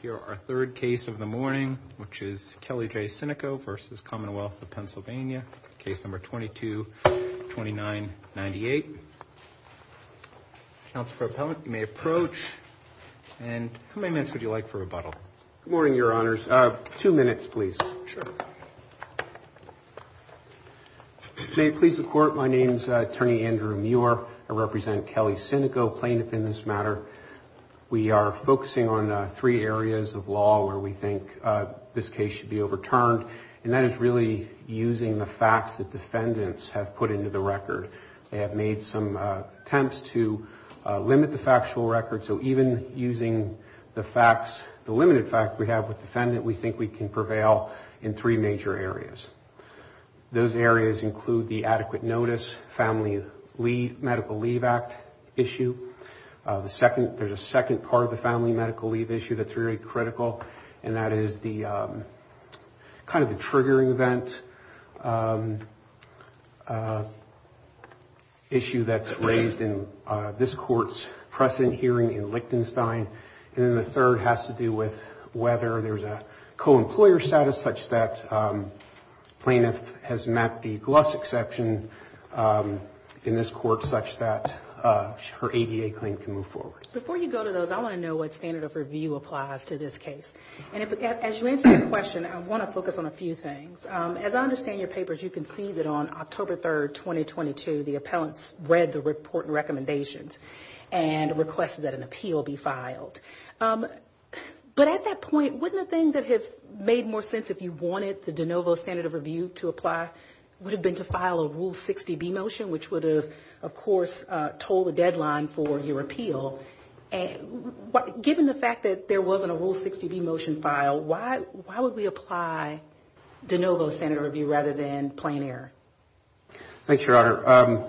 Here, our third case of the morning, which is Kelly J. Sinico v. Commonwealth of Pennsylvania, case number 22-2998. Counsel for appellate, you may approach. And how many minutes would you like for rebuttal? Good morning, Your Honors. Two minutes, please. Sure. May it please the court. My name is Attorney Andrew Muir. I represent Kelly Sinico plaintiff in this matter. We are focusing on three areas of law where we think this case should be overturned. And that is really using the facts that defendants have put into the record. They have made some attempts to limit the factual record. So even using the facts, the limited fact we have with defendant, we think we can prevail in three major areas. Those areas include the adequate notice, family leave, medical leave act issue. The second, there's a second part of the family medical leave issue that's very critical. And that is the kind of the triggering event issue that's raised in this court's precedent hearing in Lichtenstein. And then the third has to do with whether there's a co-employer status such that plaintiff has met the GLUS exception in this court such that her ADA claim can move forward. Before you go to those, I want to know what standard of review applies to this case. And as you answer the question, I want to focus on a few things. As I understand your papers, you can see that on October 3rd, 2022, the appellants read the report and recommendations and requested that an appeal be filed. But at that point, wouldn't the thing that has made more sense if you wanted the de novo standard of review to apply would have been to file a Rule 60B motion, which would have, of course, told the deadline for your appeal. And given the fact that there wasn't a Rule 60B motion file, why would we apply de novo standard of review rather than plain error? Thank you, Your Honor.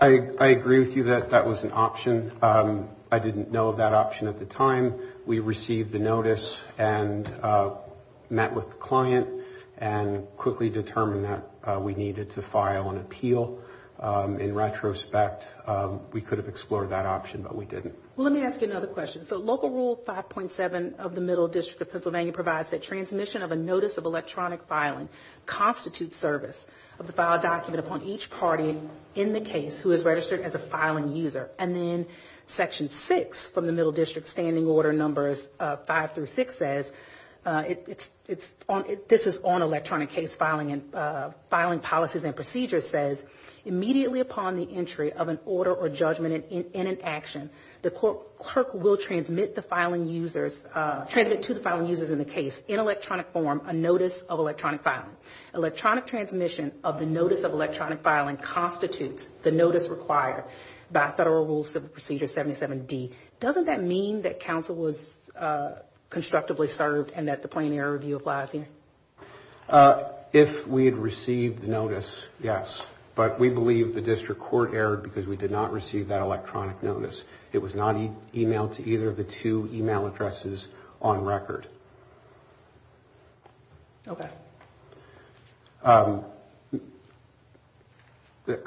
I agree with you that that was an option. I didn't know of that option at the time. We received the notice and met with the client and quickly determined that we needed to file an appeal. In retrospect, we could have explored that option, but we didn't. Let me ask you another question. So Local Rule 5.7 of the Middle District of Pennsylvania provides that transmission of a notice of electronic filing constitutes service of the file document upon each party in the case who is registered as a filing user. And then Section 6 from the Middle District Standing Order Numbers 5 through 6 says this is on electronic case and filing policies and procedures says immediately upon the entry of an order or judgment in an action, the clerk will transmit to the filing users in the case in electronic form a notice of electronic filing. Electronic transmission of the notice of electronic filing constitutes the notice required by Federal Rules of Procedure 77D. Doesn't that mean that counsel was constructively served and that the plain error review applies here? If we had received the notice, yes, but we believe the District Court erred because we did not receive that electronic notice. It was not emailed to either of the two email addresses on record. Okay. I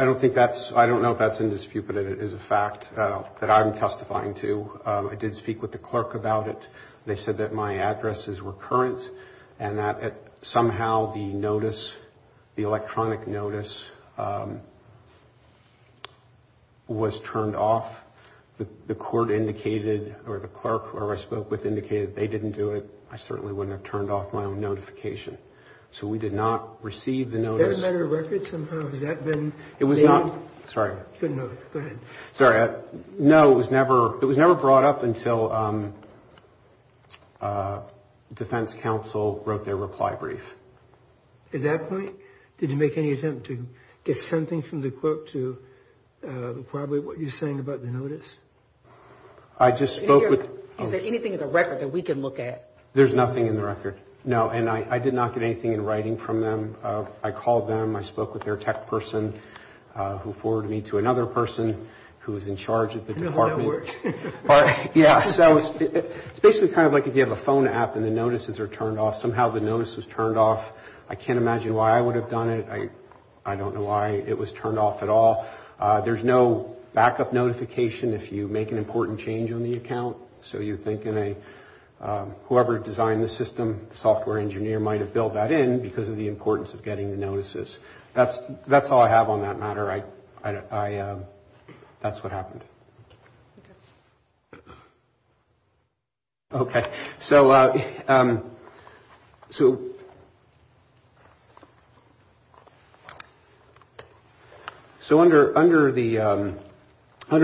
don't think that's, I don't know if that's indisputable, but it is a fact that I'm testifying to. I did speak with the clerk about it. They said that my address is recurrent and that somehow the notice, the electronic notice, was turned off. The court indicated or the clerk, whoever I spoke with, indicated they didn't do it. I certainly wouldn't have turned off my own notification. So we did not receive the notice. Is that a matter of record somehow? Has that been made? It was not. Sorry. It's a note. Go ahead. Sorry. No, it was never. It was never brought up until Defense Counsel wrote their reply brief. At that point, did you make any attempt to get something from the clerk to corroborate what you're saying about the notice? I just spoke with... Is there anything in the record that we can look at? There's nothing in the record. No, and I did not get anything in writing from them. I called them. I spoke with their tech person who forwarded me to another person who was in charge of the department. Yeah, so it's basically kind of like if you have a phone app and the notices are turned off. Somehow the notice was turned off. I can't imagine why I would have done it. I don't know why it was turned off at all. There's no backup notification if you make an important change on the account. So you think whoever designed the system, software engineer might have built that in because of the importance of getting the notices. That's all I have on that matter. That's what happened. Okay, so under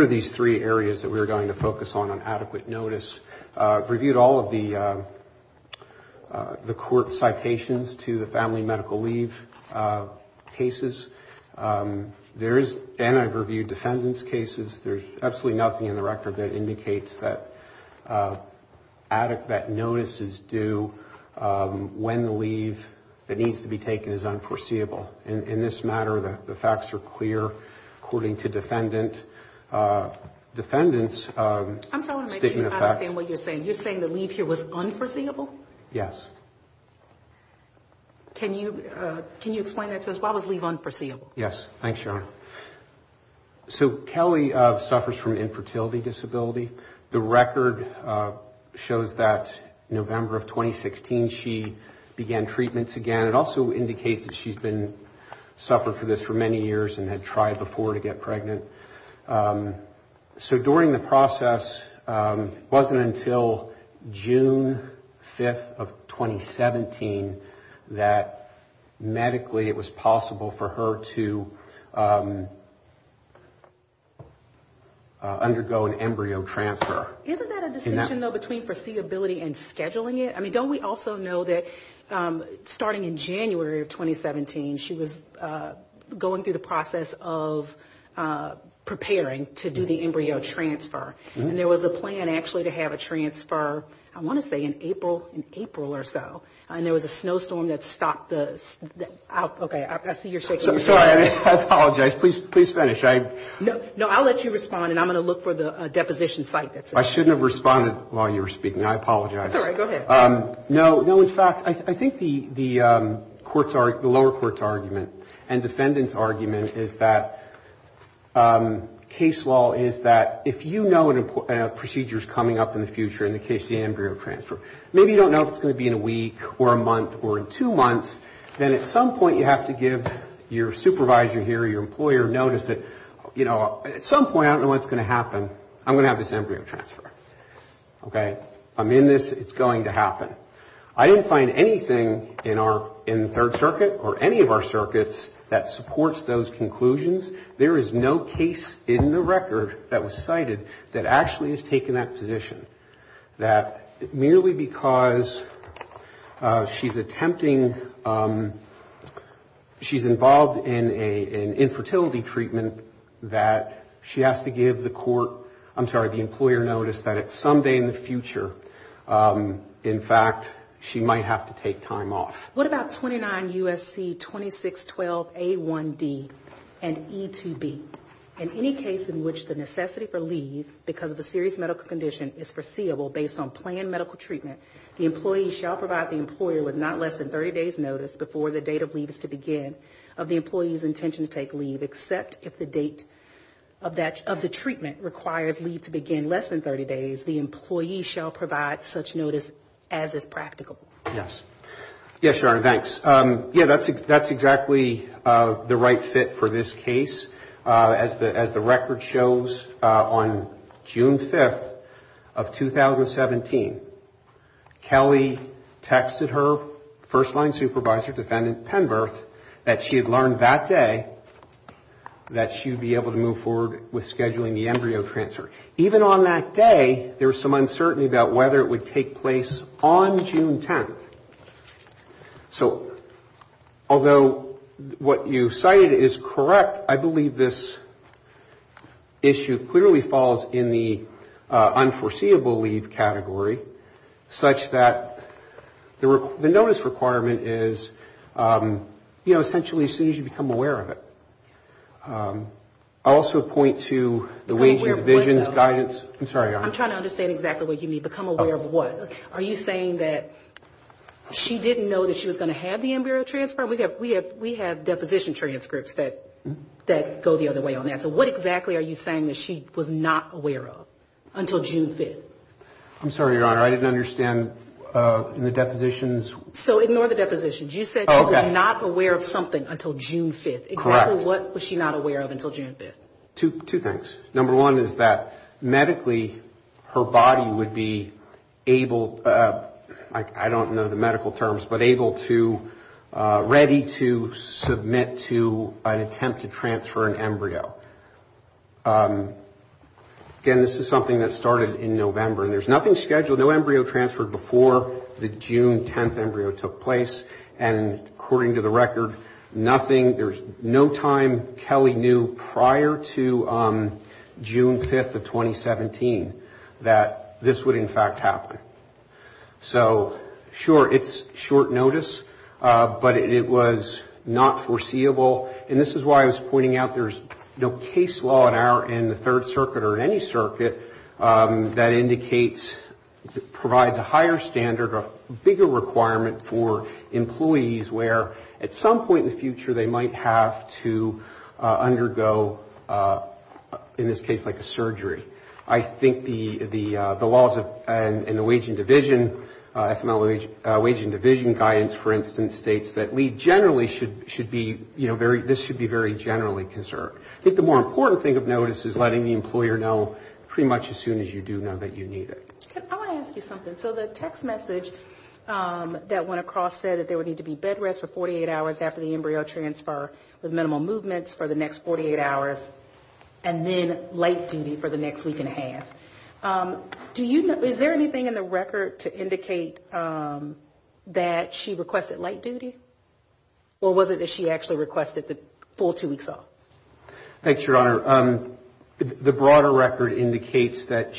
these three areas that we're going to focus on, on adequate notice, reviewed all of the court citations to the family medical leave cases. There is, and I've reviewed defendant's cases. There's absolutely nothing in the record that indicates that adequate notice is due when the leave that needs to be taken is unforeseeable. In this matter, the facts are clear, according to defendant. Defendant's statement of facts. I'm sorry, I don't understand what you're saying. You're saying the leave here was unforeseeable? Yes. Can you explain that to us? Why was leave unforeseeable? Yes. Thanks, Your Honor. So Kelly suffers from infertility disability. The record shows that November of 2016, she began treatments again. It also indicates that she's been suffering from this for many years and had tried before to get pregnant. So during the process, it wasn't until June 5th of 2017 that medically it was possible for her to undergo an embryo transfer. Isn't that a distinction, though, between foreseeability and scheduling it? I mean, don't we also know that starting in January of 2017, she was going through the process of preparing to do the embryo transfer, and there was a plan actually to have a transfer, I want to say in April, in April or so, and there was a snowstorm that stopped this. Okay, I see you're shaking your head. I'm sorry, I apologize. Please, please finish. No, no, I'll let you respond and I'm going to look for the deposition site that says this. I shouldn't have responded while you were speaking. I apologize. It's all right. Go ahead. No, no. In fact, I think the lower court's argument and defendant's argument is that case law is that if you know a procedure is coming up in the future in the case of the embryo transfer, maybe you don't know if it's going to be in a week or a month or in two months, then at some point you have to give your supervisor here, your employer, notice that at some point, I don't know what's going to happen, I'm going to have this embryo transfer. Okay, I'm in this. It's going to happen. I don't find anything in our, in third circuit or any of our circuits that supports those conclusions. There is no case in the record that was cited that actually has taken that position. That merely because she's attempting, she's involved in an infertility treatment that she has to give the court, I'm sorry, the employer notice that at some day in the future, in fact, she might have to take time off. What about 29 USC 2612 A1D and E2B? In any case in which the necessity for leave because of a serious medical condition is foreseeable based on planned medical treatment, the employee shall provide the employer with not less than 30 days notice before the date of leave is to begin of the employee's intention to take leave except if the date of that, of the treatment requires leave to begin less than 30 days. The employee shall provide such notice as is practical. Yes. Yes, Your Honor. Thanks. Yeah, that's exactly the right fit for this case as the record shows on June 5th of 2017. Kelly texted her first-line supervisor, defendant Penberth that she had learned that day that she would be able to move forward with scheduling the embryo transfer. Even on that day, there was some uncertainty about whether it would take place on June 10th. So although what you cited is correct, I believe this issue clearly falls in the unforeseeable leave category such that the notice requirement is, you know, essentially as soon as you become aware of it. I also point to the Wage and Divisions Guidance. I'm sorry, Your Honor. I'm trying to understand exactly what you mean, become aware of what? Are you saying that she didn't know that she was going to have the embryo transfer? We have deposition transcripts that go the other way on that. So what exactly are you saying that she was not aware of until June 5th? I'm sorry, Your Honor. I didn't understand in the depositions. So ignore the depositions. You said she was not aware of something until June 5th. Exactly. What was she not aware of until June 5th? Two things. Number one is that medically her body would be able, I don't know the medical terms, but able to, ready to submit to an attempt to transfer an embryo. Again, this is something that started in November and there's nothing scheduled. No embryo transferred before the June 10th embryo took place and according to the record, there's no time Kelly knew prior to June 5th of 2017 that this would in fact happen. So sure, it's short notice, but it was not foreseeable and this is why I was pointing out there's no case law in higher standard or bigger requirement for employees where at some point in the future, they might have to undergo, in this case, like a surgery. I think the laws and the wage and division, FML wage and division guidance, for instance, states that we generally should be, you know, this should be very generally conserved. I think the more important thing of notice is letting the employer know pretty much as soon as you do now that you need it. I want to ask you something. So the text message that went across said that there would need to be bed rest for 48 hours after the embryo transfer with minimal movements for the next 48 hours and then late duty for the next week and a half. Do you know, is there anything in the record to indicate that she requested late duty or was it that she actually requested the full two weeks off? Thanks, Your Honor. The broader record indicates that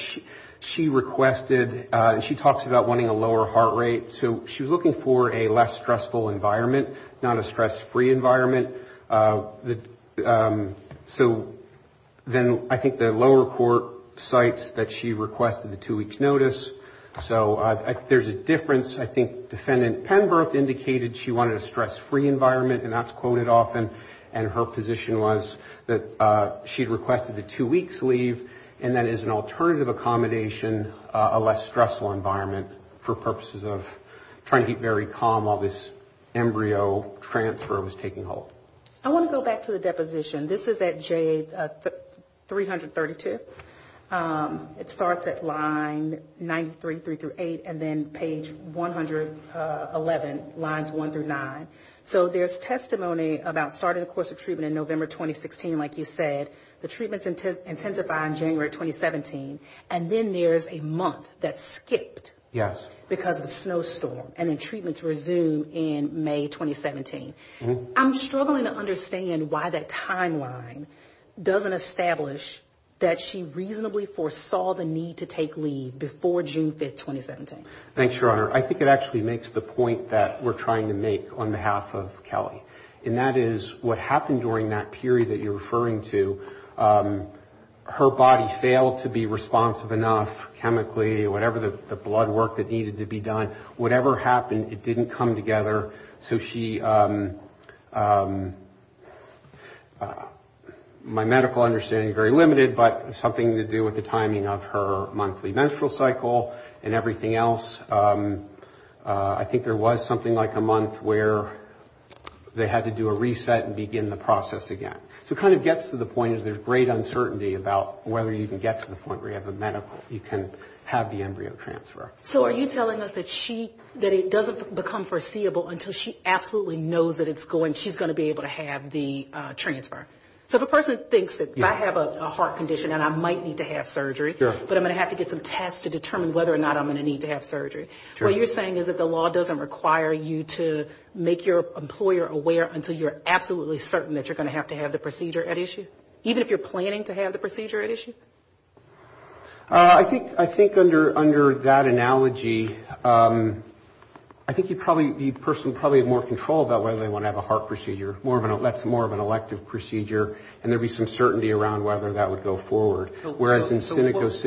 she requested and she talks about wanting a lower heart rate. So she was looking for a less stressful environment, not a stress-free environment. So then I think the lower court cites that she requested the two weeks notice. So there's a difference. I think Defendant Penberth indicated she wanted a stress-free environment and that's quoted often. And her position was that she requested the two weeks leave and that is an alternative accommodation, a less stressful environment for purposes of trying to keep very calm while this embryo transfer was taking hold. I want to go back to the deposition. This is at J332. It starts at line 93, 3 through 8 and then page 111, lines 1 through 9. So there's testimony about starting a course of treatment in November 2016. Like you said, the treatments intensify in January 2017 and then there's a month that skipped because of a snowstorm and then treatments resume in May 2017. I'm struggling to understand why that timeline doesn't establish that she reasonably foresaw the need to take leave before June 5th, 2017. Thanks, Your Honor. I think it actually makes the point that we're trying to make on behalf of Kelly and that is what happened during that period that you're referring to, her body failed to be responsive enough chemically, whatever the blood work that needed to be done, whatever happened, it didn't come together. So she, my medical understanding is very limited, but something to do with the timing of her monthly menstrual cycle and everything else. I think there was something like a month where they had to do a reset and begin the process again. So it kind of gets to the point is there's great uncertainty about whether you can get to the point where you have a medical, you can have the embryo transfer. So are you telling us that she, that it doesn't become foreseeable until she absolutely knows that it's going, she's going to be able to have the transfer? So if a person thinks that I have a heart condition and I might need to have surgery, but I'm going to have to get some tests to determine whether or not I'm going to need to have surgery, what you're saying is that the law doesn't require you to make your employer aware until you're absolutely certain that you're going to have to have the procedure at issue? Even if you're planning to have the procedure at issue? I think under that analogy, I think you probably, the person probably have more control about whether they want to have a heart procedure, that's more of an elective procedure, and there'd be some certainty around whether that would go forward. Whereas in a cynical situation...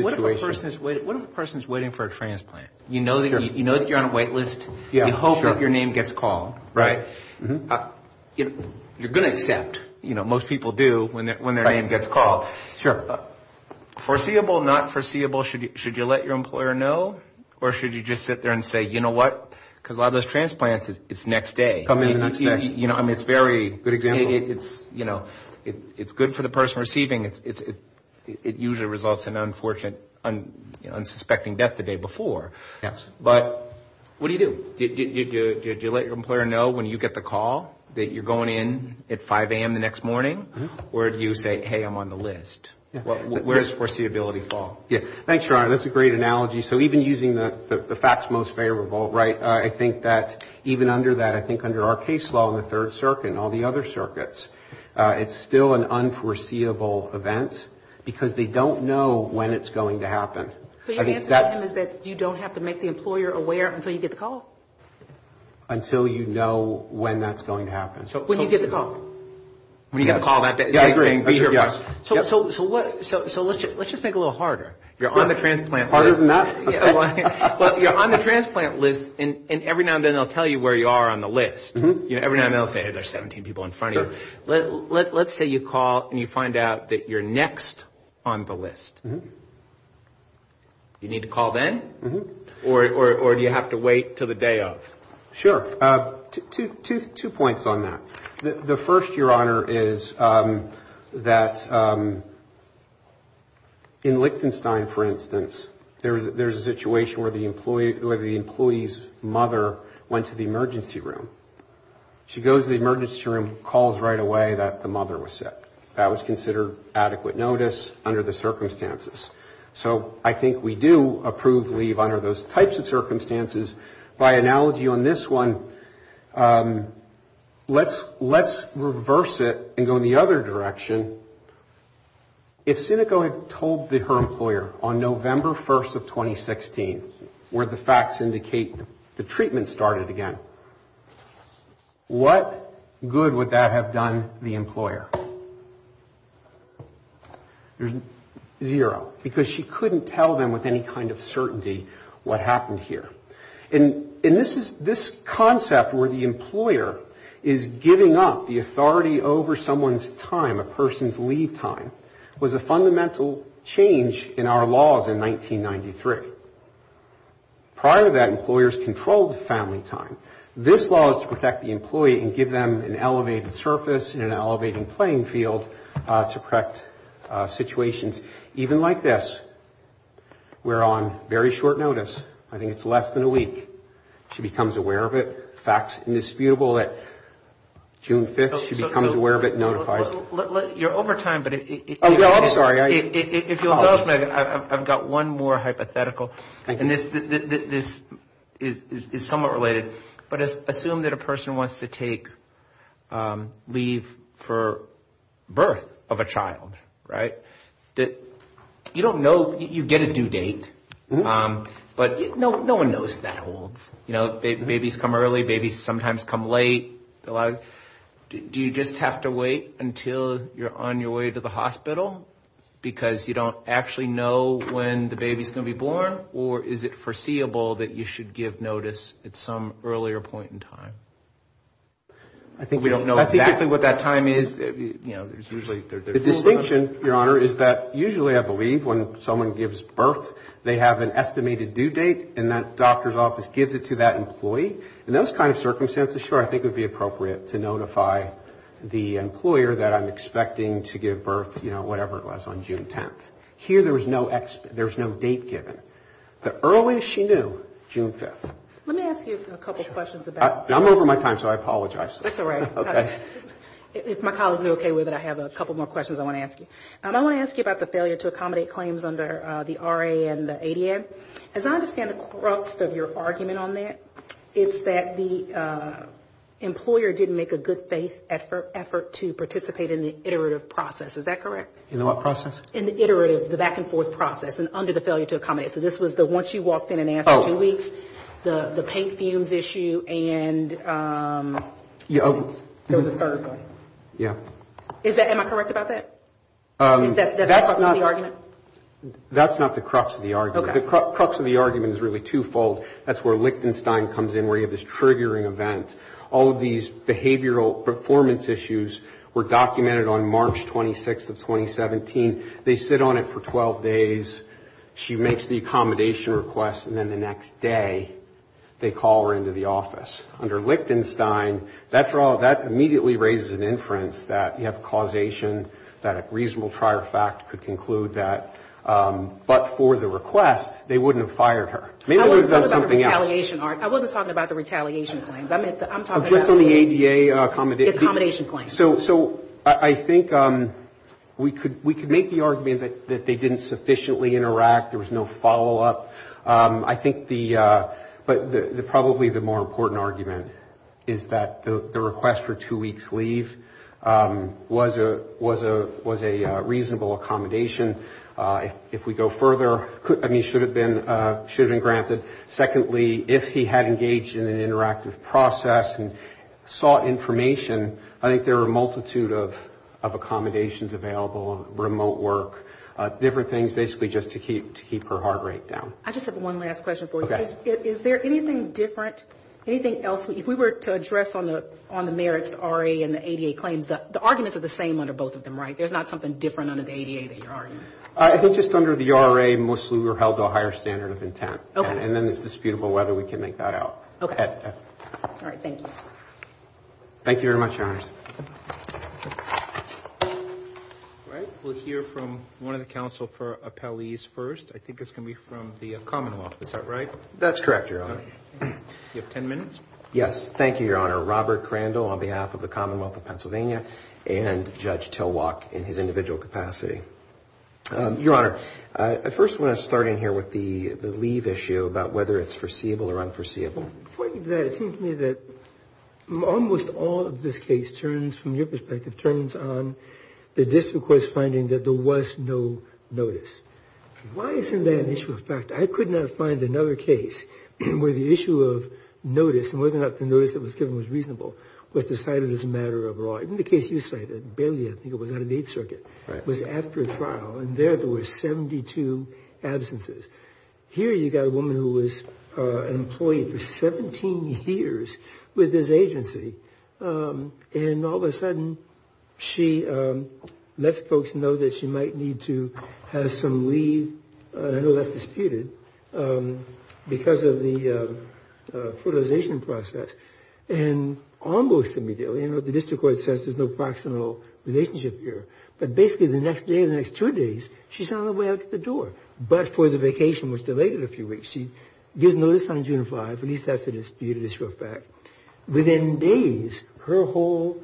So what if a person is waiting for a transplant? You know that you're on a wait list, you hope that your name gets called, right? You're going to accept, you know, most people do when their name gets called. Sure. Foreseeable, not foreseeable, should you let your employer know, or should you just sit there and say, you know what? Because a lot of those transplants, it's next day. Coming the next day. You know, I mean, it's very... Good example. It's, you know, it's good for the person receiving. It usually results in unfortunate, unsuspecting death the day before. Yes. But what do you do? Do you let your employer know when you get the call that you're going in at 5 a.m. the next morning? Or do you say, hey, I'm on the list? Where's foreseeability fall? Yeah. Thanks, Ron. That's a great analogy. So even using the facts most favorable, right? I think that even under that, I think under our case law in the Third Circuit and all the other circuits, it's still an unforeseeable event because they don't know when it's going to happen. But your answer to them is that you don't have to make the employer aware until you get the call? Until you know when that's going to happen. So when you get the call. When you get the call that day. Yeah, I agree. So let's just make it a little harder. You're on the transplant list. Harder than that? But you're on the transplant list and every now and then they'll tell you where you are on the list. You know, every now and then they'll say, hey, there's 17 people in front of you. Let's say you call and you find out that you're next on the list. You need to call then? Or do you have to wait till the day of? Sure, two points on that. The first, Your Honor, is that in Lichtenstein, for instance, there's a situation where the employee's mother went to the emergency room. She goes to the emergency room, calls right away that the mother was sick. That was considered adequate notice under the circumstances. So I think we do approve leave under those types of circumstances. By analogy on this one, let's reverse it and go in the other direction. If Sinico had told her employer on November 1st of 2016 where the facts indicate the treatment started again, what good would that have done the employer? There's zero because she couldn't tell them with any kind of certainty what happened here. And this concept where the employer is giving up the authority over someone's time, a person's leave time, was a fundamental change in our laws in 1993. Prior to that, employers controlled family time. This law is to protect the employee and give them an elevated surface and an elevating playing field to correct situations. Even like this, we're on very short notice. I think it's less than a week. She becomes aware of it. Facts indisputable that June 5th, she becomes aware of it and notifies. You're over time, but if you'll excuse me, I've got one more hypothetical, and this is somewhat related. But assume that a person wants to take leave for birth of a child, right? You don't know, you get a due date, but no one knows if that holds. You know, babies come early, babies sometimes come late. Do you just have to wait until you're on your way to the hospital because you don't actually know when the baby's going to be born? Or is it foreseeable that you should give notice at some earlier point in time? I think we don't know exactly what that time is. You know, there's usually the distinction, Your Honor, is that usually I believe when someone gives birth, they have an estimated due date and that doctor's office gives it to that employee. In those kind of circumstances, sure, I think it would be appropriate to notify the employer that I'm expecting to give birth, you know, whatever it was on June 10th. Here, there was no date given. The earliest she knew, June 5th. Let me ask you a couple questions about... I'm over my time, so I apologize. That's all right. Okay. If my colleagues are okay with it, I have a couple more questions I want to ask you. I want to ask you about the failure to accommodate claims under the RA and the ADM. As I understand the crux of your argument on that, it's that the employer didn't make a good faith effort to participate in the iterative process. Is that correct? In what process? In the iterative, the back and forth process and under the failure to accommodate. So this was once you walked in and answered two weeks, the paint fumes issue and... There was a third one. Yeah. Am I correct about that? That's not the crux of the argument. The crux of the argument is really twofold. That's where Lichtenstein comes in, where you have this triggering event. All of these behavioral performance issues were documented on March 26th of 2017. They sit on it for 12 days. She makes the accommodation request and then the next day they call her into the office. Under Lichtenstein, that immediately raises an inference that you have causation, that a reasonable prior fact could conclude that, but for the request, they wouldn't have Maybe they would have done something else. I wasn't talking about the retaliation. I wasn't talking about the retaliation claims. I'm talking about... Just on the ADA accommodation. The accommodation claims. So I think we could make the argument that they didn't sufficiently interact. There was no follow-up. I think the... But probably the more important argument is that the request for two weeks leave was a reasonable accommodation. If we go further, I mean, should have been granted. Secondly, if he had engaged in an interactive process and sought information, I think there are a multitude of accommodations available, remote work. Different things basically just to keep her heart rate down. I just have one last question for you. Is there anything different? Anything else? If we were to address on the merits, the RA and the ADA claims, the arguments are the same under both of them, right? There's not something different under the ADA that you're arguing? I think just under the RA, mostly we're held to a higher standard of intent. Okay. And then it's disputable whether we can make that out. Okay. All right. Thank you. Thank you very much, Your Honors. All right. We'll hear from one of the counsel for appellees first. I think it's going to be from the Commonwealth. Is that right? That's correct, Your Honor. You have 10 minutes. Yes. Thank you, Your Honor. Robert Crandall on behalf of the Commonwealth of Pennsylvania and Judge Tilwock in his individual capacity. Your Honor, I first want to start in here with the leave issue about whether it's foreseeable or unforeseeable. Pointing to that, it seems to me that almost all of this case turns, from your perspective, turns on the district court's finding that there was no notice. Why isn't that an issue of fact? I could not find another case where the issue of notice and whether or not the notice that was given was reasonable was decided as a matter of law. In the case you cited, Bailey, I think it was out of Eighth Circuit, was after a trial and there there were 72 absences. Here you got a woman who was an employee for 17 years with this agency. And all of a sudden, she lets folks know that she might need to have some leave. I know that's disputed because of the fertilization process. And almost immediately, you know, the district court says there's no proximal relationship here. But basically the next day, the next two days, she's on her way out the door. But for the vacation, which delayed it a few weeks, she gives notice on June 5. At least that's a disputed issue of fact. Within days, her whole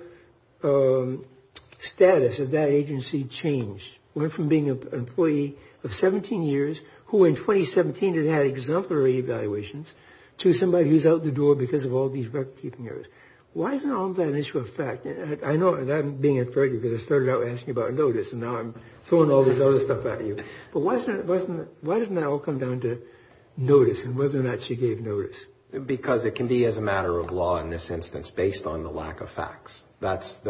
status of that agency changed. Went from being an employee of 17 years, who in 2017 had had exemplary evaluations, to somebody who's out the door because of all these record-keeping errors. Why isn't all that an issue of fact? I know that I'm being afraid you're going to start out asking about notice and now I'm throwing all this other stuff at you. But why doesn't that all come down to notice and whether or not she gave notice? Because it can be as a matter of law in this instance, based on the lack of facts. That's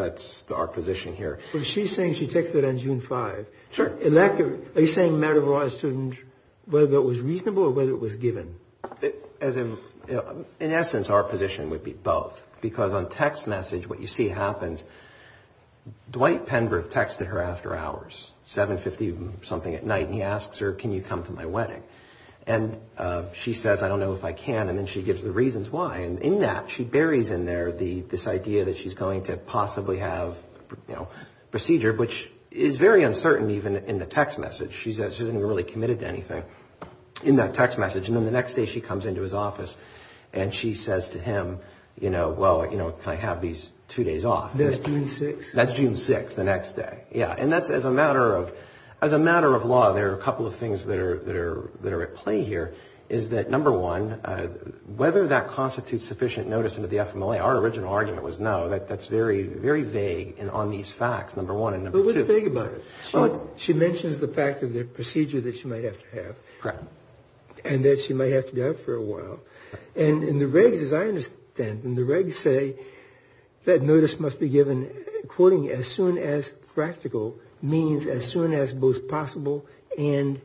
our position here. So she's saying she texted on June 5. Sure. Are you saying matter of law as to whether it was reasonable or whether it was given? In essence, our position would be both. Because on text message, what you see happens, Dwight Penrith texted her after hours, 7.50 something at night, and he asks her, can you come to my wedding? And she says, I don't know if I can, and then she gives the reasons why. And in that, she buries in there this idea that she's going to possibly have procedure, which is very uncertain even in the text message. She's not really committed to anything in that text message. And then the next day, she comes into his office and she says to him, well, can I have these two days off? That's June 6. That's June 6, the next day. Yeah. And as a matter of law, there are a couple of things that are at play here, is that number one, whether that constitutes sufficient notice into the FMLA, our original argument was no. That's very, very vague on these facts, number one. But what's vague about it? She mentions the fact of the procedure that she might have to have. Correct. And that she might have to be out for a while. And in the regs, as I understand, in the regs say that notice must be given, quoting, as soon as practical means as soon as both possible and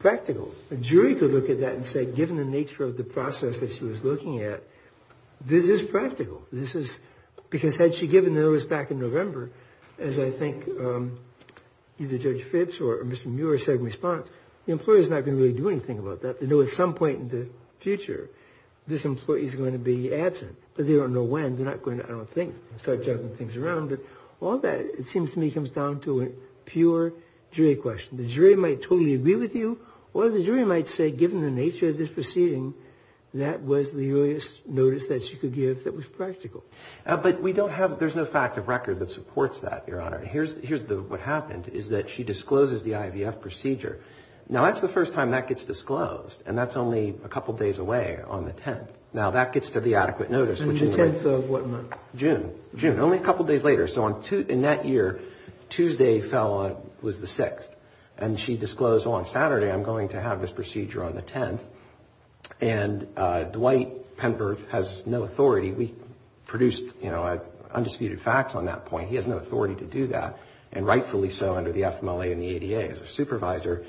practical. A jury could look at that and say, given the nature of the process that she was looking at, this is practical. This is, because had she given the notice back in November, as I think either Judge Phipps or Mr. Muir said in response, the employee is not going to really do anything about that. They know at some point in the future, this employee is going to be absent. But they don't know when. They're not going to, I don't think, start juggling things around. But all of that, it seems to me, comes down to a pure jury question. The jury might totally agree with you, or the jury might say, given the nature of this proceeding, that was the earliest notice that she could give that was practical. But we don't have, there's no fact of record that supports that, Your Honor. Here's what happened, is that she discloses the IVF procedure. Now, that's the first time that gets disclosed. And that's only a couple days away on the 10th. Now, that gets to the adequate notice. On the 10th of what month? June. June. Only a couple days later. So in that year, Tuesday fell on, was the 6th. And she disclosed, on Saturday, I'm going to have this procedure on the 10th. And Dwight Pemberth has no authority. We produced, you know, undisputed facts on that point. He has no authority to do that. And rightfully so, under the FMLA and the ADA. As a supervisor,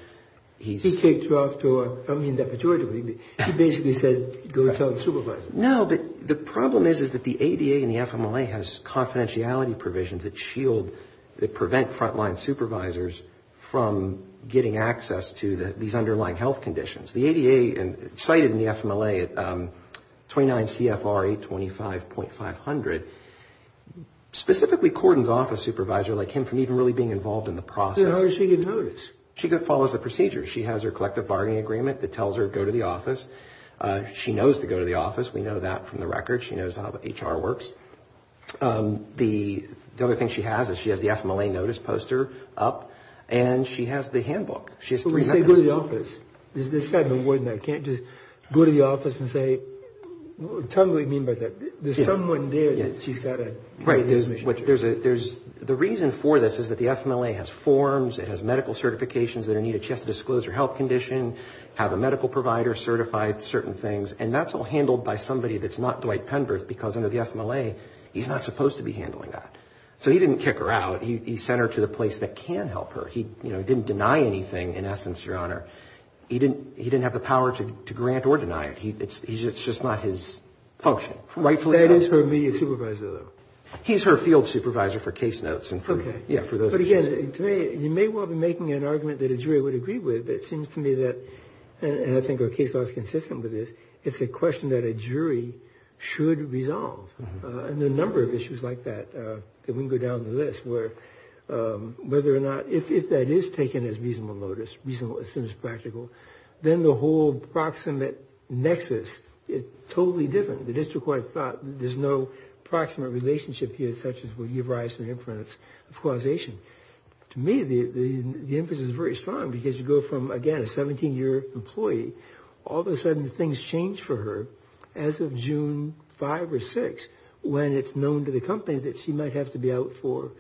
he's... He kicked her off to a, I mean, the majority of it. He basically said, go tell the supervisor. No, but the problem is, is that the ADA and the FMLA has confidentiality provisions that shield, that prevent front-line supervisors from getting access to these underlying health conditions. The ADA, cited in the FMLA, 29 CFR 825.500, specifically cordons off a supervisor like him from even really being involved in the process. Then how is she going to notice? She could follow the procedure. She has her collective bargaining agreement that tells her, go to the office. She knows to go to the office. We know that from the record. She knows how the HR works. The other thing she has is, she has the FMLA notice poster up and she has the handbook. She has three minutes. But when you say go to the office, there's this kind of a word in there. You can't just go to the office and say, what do you mean by There's someone there that she's got to... Right. There's, there's a, there's, the reason for this is that the FMLA has forms. It has medical certifications that are needed. She has to disclose her health condition, have a medical provider certify certain things. And that's all handled by somebody that's not Dwight Penberth, because under the FMLA, he's not supposed to be handling that. So he didn't kick her out. He sent her to the place that can help her. He, you know, didn't deny anything in essence, Your Honor. He didn't, he didn't have the power to grant or deny it. He, it's, it's just not his function. Rightfully so. That is her media supervisor though. He's her field supervisor for case notes and for, yeah, for those cases. But again, to me, you may well be making an argument that Adria would agree with, but it seems to me that, and I think your case law is consistent with this, it's a question that a jury should resolve. And the number of issues like that, that we can go down the list where whether or not, if that is taken as reasonable notice, reasonable, as soon as practical, then the whole proximate nexus is totally different. The district court thought there's no proximate relationship here, such as when you rise to the inference of causation. To me, the, the, the emphasis is very strong because you go from, again, a 17 year employee, all of a sudden things change for her as of June 5 or 6, when it's known to the company that she might have to be out for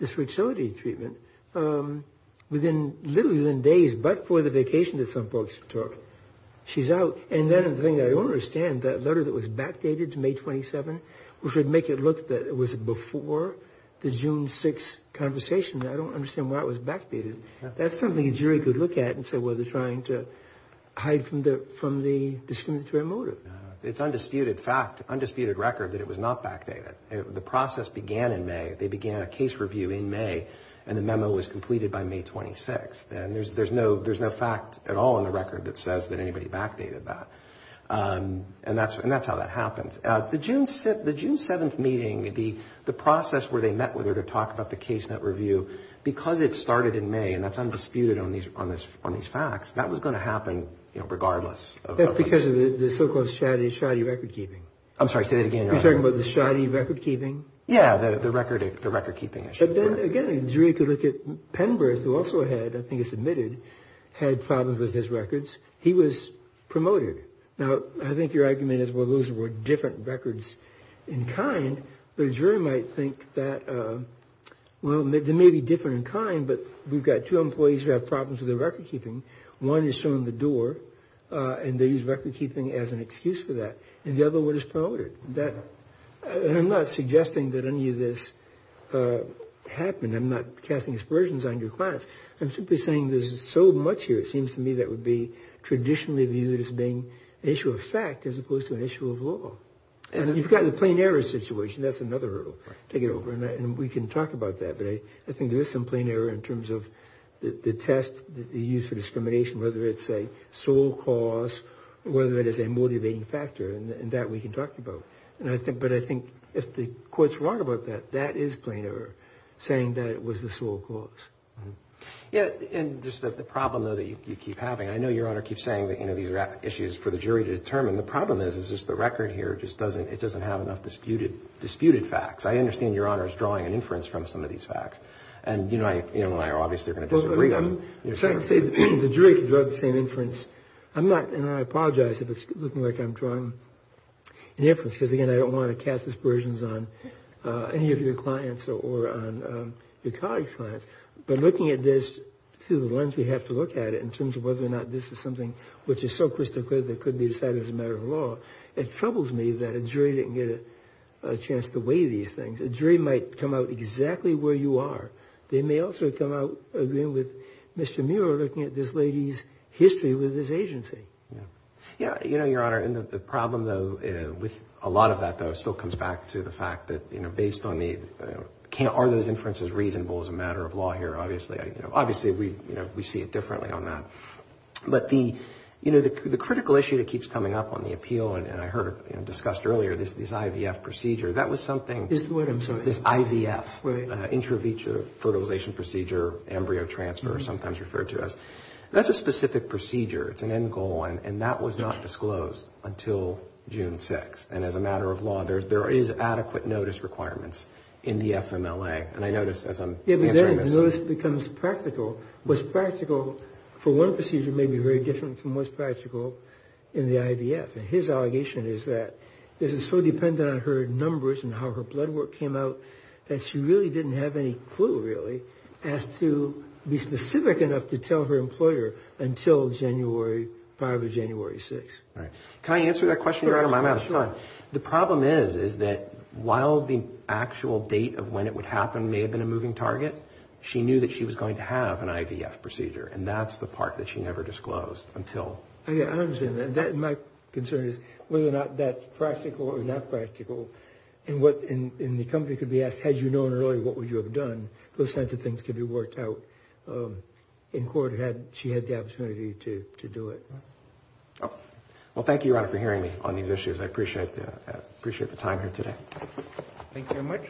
this fertility treatment within literally within days, but for the vacation that some folks took. She's out. And then the thing that I don't understand, that letter that was backdated to May 27, which would make it look that it was before the June 6 conversation. I don't understand why it was backdated. That's something a jury could look at and say, well, they're trying to hide from the, from the discriminatory motive. It's undisputed fact, undisputed record that it was not backdated. The process began in May. They began a case review in May and the memo was completed by May 26. And there's, there's no, there's no fact at all in the record that says that anybody backdated that. And that's, and that's how that happens. The June, the June 7th meeting, the, the process where they met with her to talk about the case net review, because it started in May and that's undisputed on these, on this, on these facts. That was going to happen, you know, regardless. That's because of the so-called shoddy, shoddy record-keeping. I'm sorry, say that again. You're talking about the shoddy record-keeping? Yeah, the record, the record-keeping issue. But then again, a jury could look at Penberth, who also had, I think it's admitted, had problems with his records. He was promoted. Now, I think your argument is, well, those were different records in kind, but a jury might think that, well, there may be different in kind, but we've got two employees who have problems with their record-keeping. One is showing the door and they use record-keeping as an excuse for that. And the other one is promoted. That, and I'm not suggesting that any of this happened. I'm not casting aspersions on your clients. I'm simply saying there's so much here. It seems to me that would be traditionally viewed as being an issue of fact as opposed to an issue of law. And you've got the plain error situation. That's another hurdle. Take it over and we can talk about that. But I think there is some plain error in terms of the test that you use for discrimination, whether it's a sole cause, whether it is a motivating factor, and that we can talk about. And I think, but I think if the court's wrong about that, that is plain error, saying that it was the sole cause. Yeah, and just the problem, though, that you keep having. I know Your Honor keeps saying that, you know, these are issues for the jury to determine. The problem is, is just the record here just doesn't, it doesn't have enough disputed facts. I understand Your Honor's drawing an inference from some of these facts and, you know, I, you know, I obviously are going to disagree. I'm trying to say the jury can draw the same inference. I'm not, and I apologize if it's looking like I'm drawing an inference, because again, I don't want to cast aspersions on any of your clients or on your colleagues' clients. But looking at this through the lens we have to look at it in terms of whether or not this is something which is so crystal clear that could be decided as a matter of law. It troubles me that a jury didn't get a chance to weigh these things. A jury might come out exactly where you are. They may also come out agreeing with Mr. Muir looking at this lady's history with this agency. Yeah, you know, Your Honor, and the problem, though, with a lot of that, though, still comes back to the fact that, you know, based on the, are those inferences reasonable as a matter of law here? Obviously, you know, obviously we, you know, we see it differently on that. But the, you know, the critical issue that keeps coming up on the appeal, and I heard, you know, discussed earlier, this IVF procedure, that was something. Is the word, I'm sorry. This IVF. Right. Intravitreal Fertilization Procedure, embryo transfer, sometimes referred to as. That's a specific procedure. It's an end goal, and that was not disclosed until June 6th. And as a matter of law, there is adequate notice requirements in the FMLA. And I notice as I'm answering this. Notice becomes practical. What's practical for one procedure may be very different from what's practical in the IVF. And his allegation is that this is so dependent on her blood work came out that she really didn't have any clue really, as to be specific enough to tell her employer until January 5 or January 6. Right. Can I answer that question? You're out of my mouth. Come on. The problem is, is that while the actual date of when it would happen may have been a moving target, she knew that she was going to have an IVF procedure. And that's the part that she never disclosed until. Yeah, I understand that. That, my concern is whether or not that's practical or not and the company could be asked, had you known earlier, what would you have done? Those kinds of things could be worked out in court. Had she had the opportunity to do it? Well, thank you, Your Honor, for hearing me on these issues. I appreciate that. Appreciate the time here today. Thank you very much.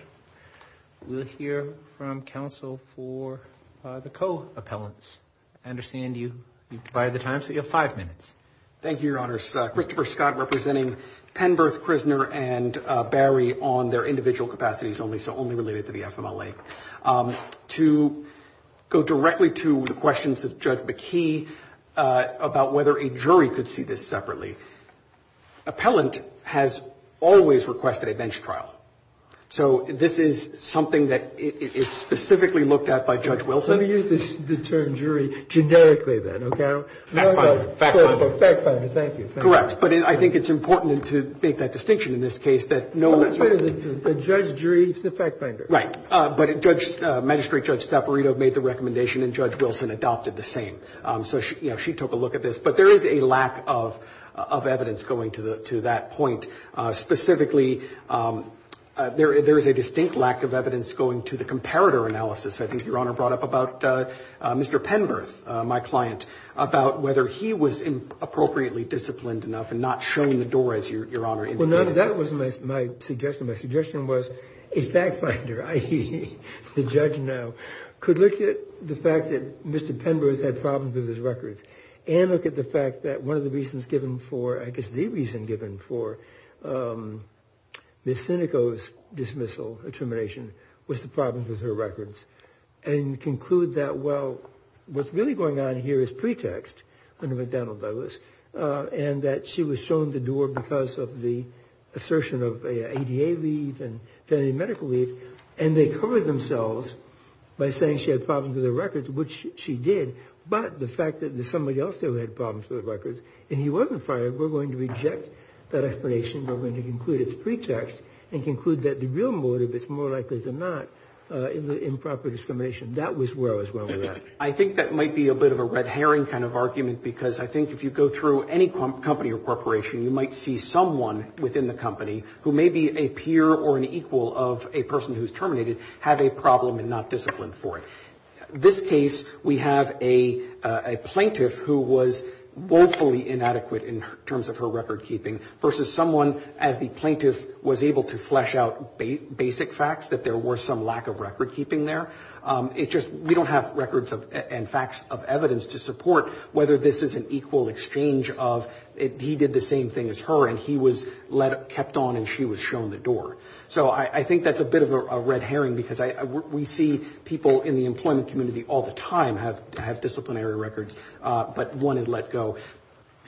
We'll hear from counsel for the co-appellants. I understand you, you've divided the time. So you have five minutes. Thank you, Your Honors. Christopher Scott representing Penberth prisoner and Barry on their individual capacities only. So only related to the FMLA. To go directly to the questions of Judge McKee about whether a jury could see this separately. Appellant has always requested a bench trial. So this is something that is specifically looked at by Judge Wilson. Let me use the term jury generically then. Okay. Fact-finding. Fact-finding. Fact-finding. Thank you. Correct. But I think it's important to make that distinction in this case that no one. That's what it is. The judge, jury, it's the fact-finder. Right. But Judge, Magistrate Judge Stapparito made the recommendation and Judge Wilson adopted the same. So she took a look at this, but there is a lack of evidence going to that point. Specifically, there is a distinct lack of evidence going to the comparator analysis. I think Your Honor brought up about Mr. Penberth, my client, about whether he was appropriately disciplined enough and not showing the door, as Your Honor indicated. Well, none of that was my suggestion. My suggestion was a fact-finder, i.e., the judge now, could look at the fact that Mr. Penberth had problems with his records and look at the fact that one of the reasons given for, I guess, the reason given for Ms. Sinico's dismissal termination was the problem with her records and conclude that, well, what's really going on here is pretext under McDonnell Douglas and that she was shown the door because of the assertion of ADA leave and family medical leave and they covered themselves by saying she had problems with her records, which she did, but the fact that there's somebody else there who had problems with her records and he wasn't fired, we're going to reject that explanation. We're going to conclude it's pretext and conclude that the real motive is more likely than not in the improper discrimination. That was where I was wrong with that. I think that might be a bit of a red herring kind of argument because I think if you go through any company or corporation, you might see someone within the company who may be a peer or an equal of a person who's terminated have a problem and not disciplined for it. This case, we have a plaintiff who was woefully inadequate in terms of her record-keeping versus someone as the plaintiff was able to flesh out basic facts that there were some lack of record-keeping there. It's just we don't have records of and facts of evidence to support whether this is an equal exchange of he did the same thing as her and he was kept on and she was shown the door. So I think that's a bit of a red herring because we see people in the employment community all the time have disciplinary records, but one is let go.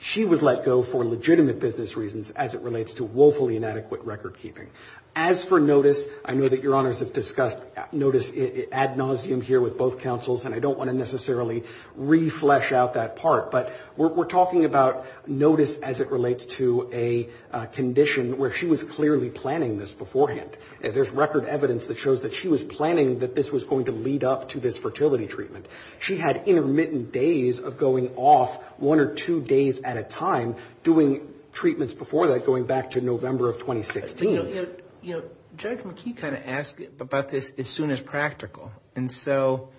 She was let go for legitimate business reasons as it relates to woefully inadequate record-keeping. As for notice, I know that Your Honors have discussed notice ad nauseum here with both counsels and I don't want to necessarily reflesh out that part, but we're talking about notice as it relates to a condition where she was clearly planning this beforehand. There's record evidence that shows that she was planning that this was going to lead up to this fertility treatment. She had intermittent days of going off one or two days at a time doing treatments before that going back to November of 2016. You know, Judge McKee kind of asked about this as soon as practical. And so,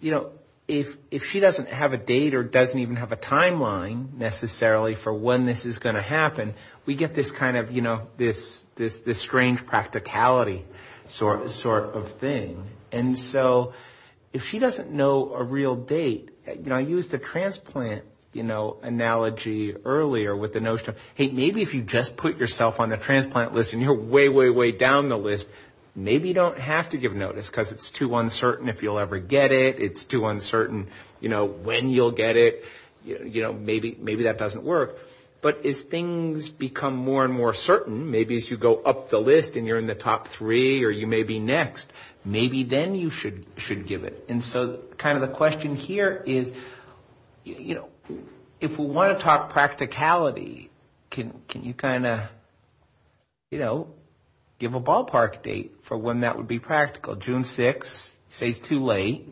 you know, if she doesn't have a date or doesn't even have a timeline necessarily for when this is going to happen, we get this kind of, you know, this strange practicality sort of thing. And so if she doesn't know a real date, you know, I used the transplant, you know, analogy earlier with the notion of, hey, maybe if you just put yourself on the transplant list and you're way, way, way down the list, maybe you don't have to give notice because it's too uncertain if you'll ever get it. It's too uncertain, you know, when you'll get it, you know, maybe that doesn't work. But as things become more and more certain, maybe as you go up the list and you're in the top three or you may be next, maybe then you should give it. And so kind of the question here is, you know, if we want to talk practicality, can you kind of, you know, give a ballpark date for when that would be practical? Well, June 6th, say it's too late,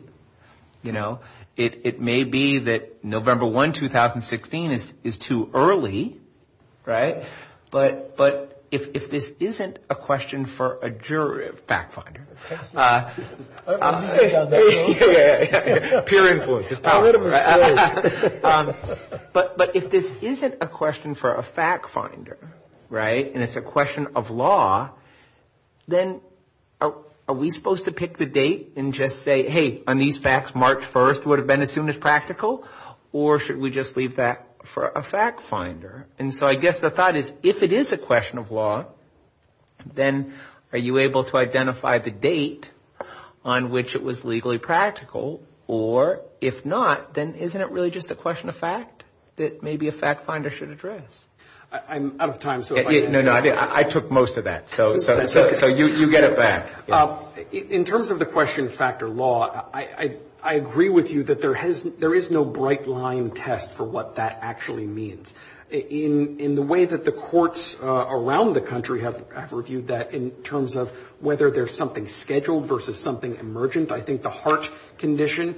you know, it may be that November 1, 2016 is too early, right? But if this isn't a question for a jury, a fact finder. Peer influence is powerful. But if this isn't a question for a fact finder, right, and it's a question of law, then are we supposed to pick the date and just say, hey, on these facts, March 1st would have been as soon as practical? Or should we just leave that for a fact finder? And so I guess the thought is, if it is a question of law, then are you able to identify the date on which it was legally practical? Or if not, then isn't it really just a question of fact that maybe a fact finder should address? I'm out of time. So, no, no, I took most of that. So you get it back. In terms of the question factor law, I agree with you that there is no bright line test for what that actually means. In the way that the courts around the country have reviewed that in terms of whether there's something scheduled versus something emergent, I think the heart condition,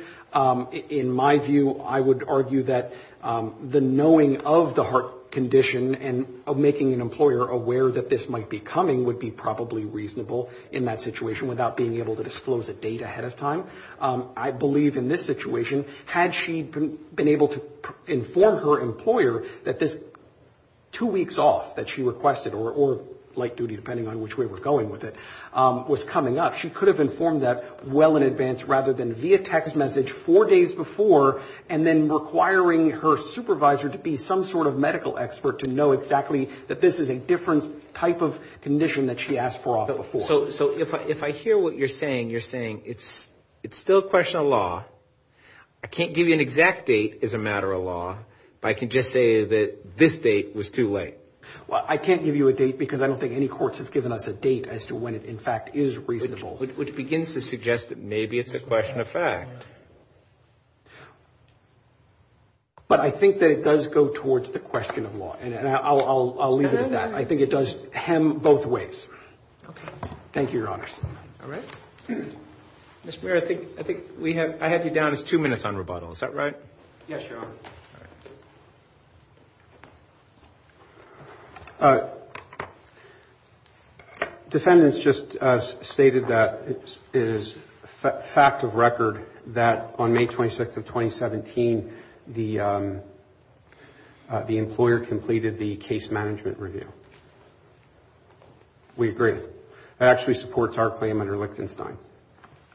in my view, I would argue that the knowing of the heart condition and of making an employer aware that this might be coming would be probably reasonable in that situation without being able to disclose a date ahead of time. I believe in this situation, had she been able to inform her employer that this two weeks off that she requested or light duty, depending on which way we're going with it, was coming up, she could have informed that well in advance rather than via text message four days before and then medical expert to know exactly that this is a different type of condition that she asked for off before. So if I hear what you're saying, you're saying it's still a question of law. I can't give you an exact date as a matter of law, but I can just say that this date was too late. Well, I can't give you a date because I don't think any courts have given us a date as to when it in fact is reasonable. Which begins to suggest that maybe it's a question of fact. But I think that it does go towards the question of law and I'll leave it at that. I think it does hem both ways. Thank you, Your Honor. All right. Mr. Mayor, I think we have, I had you down as two minutes on rebuttal. Is that right? Yes, Your Honor. Defendants just stated that it is fact of record that that on May 26th of 2017, the the employer completed the case management review. We agree. It actually supports our claim under Lichtenstein.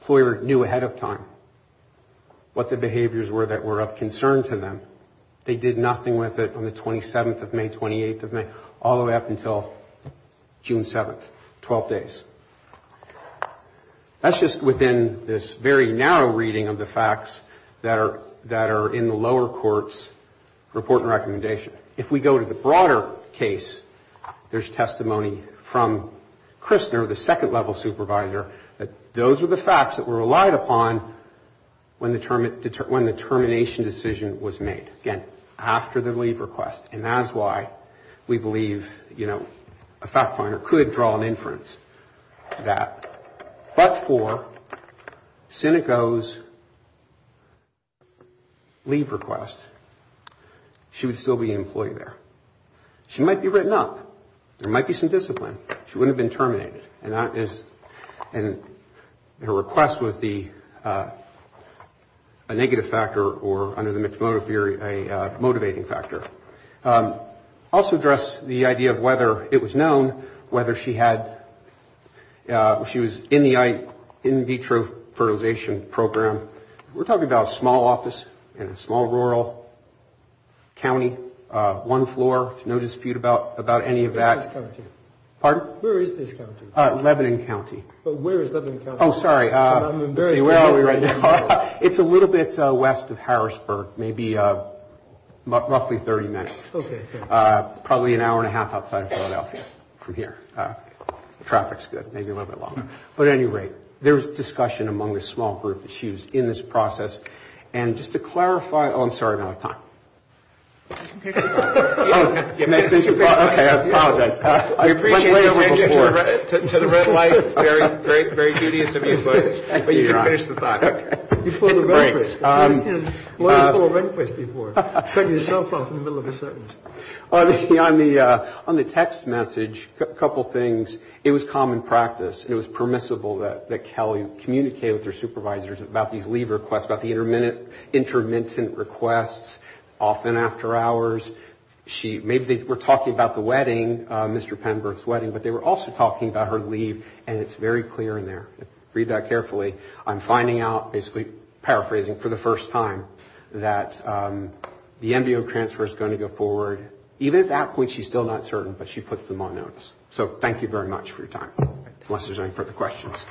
Employer knew ahead of time what the behaviors were that were of concern to them. They did nothing with it on the 27th of May, 28th of May, all the way up until June 7th, 12 days. That's just within this very narrow reading of the facts that are, that are in the lower court's report and recommendation. If we go to the broader case, there's testimony from Kristner, the second level supervisor, that those are the facts that were relied upon when the termination decision was made. Again, after the leave request. And that's why we believe, you know, a fact finder could draw an inference. That, but for Sinico's leave request, she would still be an employee there. She might be written up. There might be some discipline. She wouldn't have been terminated. And that is, and her request was the a negative factor or under the mixed motive theory, a motivating factor. Also address the idea of whether it was known whether she had, she was in the in vitro fertilization program. We're talking about a small office in a small rural county, one floor, no dispute about, about any of that. Pardon? Where is this county? Lebanon County. But where is Lebanon County? Oh, sorry. It's a little bit west of Harrisburg, maybe roughly 30 minutes. Okay. Probably an hour and a half outside of Philadelphia from here. Traffic's good. Maybe a little bit longer. But at any rate, there's discussion among the small group issues in this process. And just to clarify, oh, I'm sorry. I'm out of time. To the red light. Very great. Very tedious of you, but you can finish the thought. Okay. Before the break. Why did you pull a request before? Cut yourself off in the middle of a sentence. On the text message, a couple things. It was common practice. It was permissible that Kelly communicate with her supervisors about these leave requests, about the intermittent requests, often after hours. Maybe they were talking about the wedding, Mr. Penberth's wedding, but they were also talking about her leave, and it's very clear in there. Read that carefully. I'm finding out, basically paraphrasing for the first time that the MBO transfer is going to go forward. Even at that point, she's still not certain, but she puts them on notice. So thank you very much for your time. Unless there's any further questions.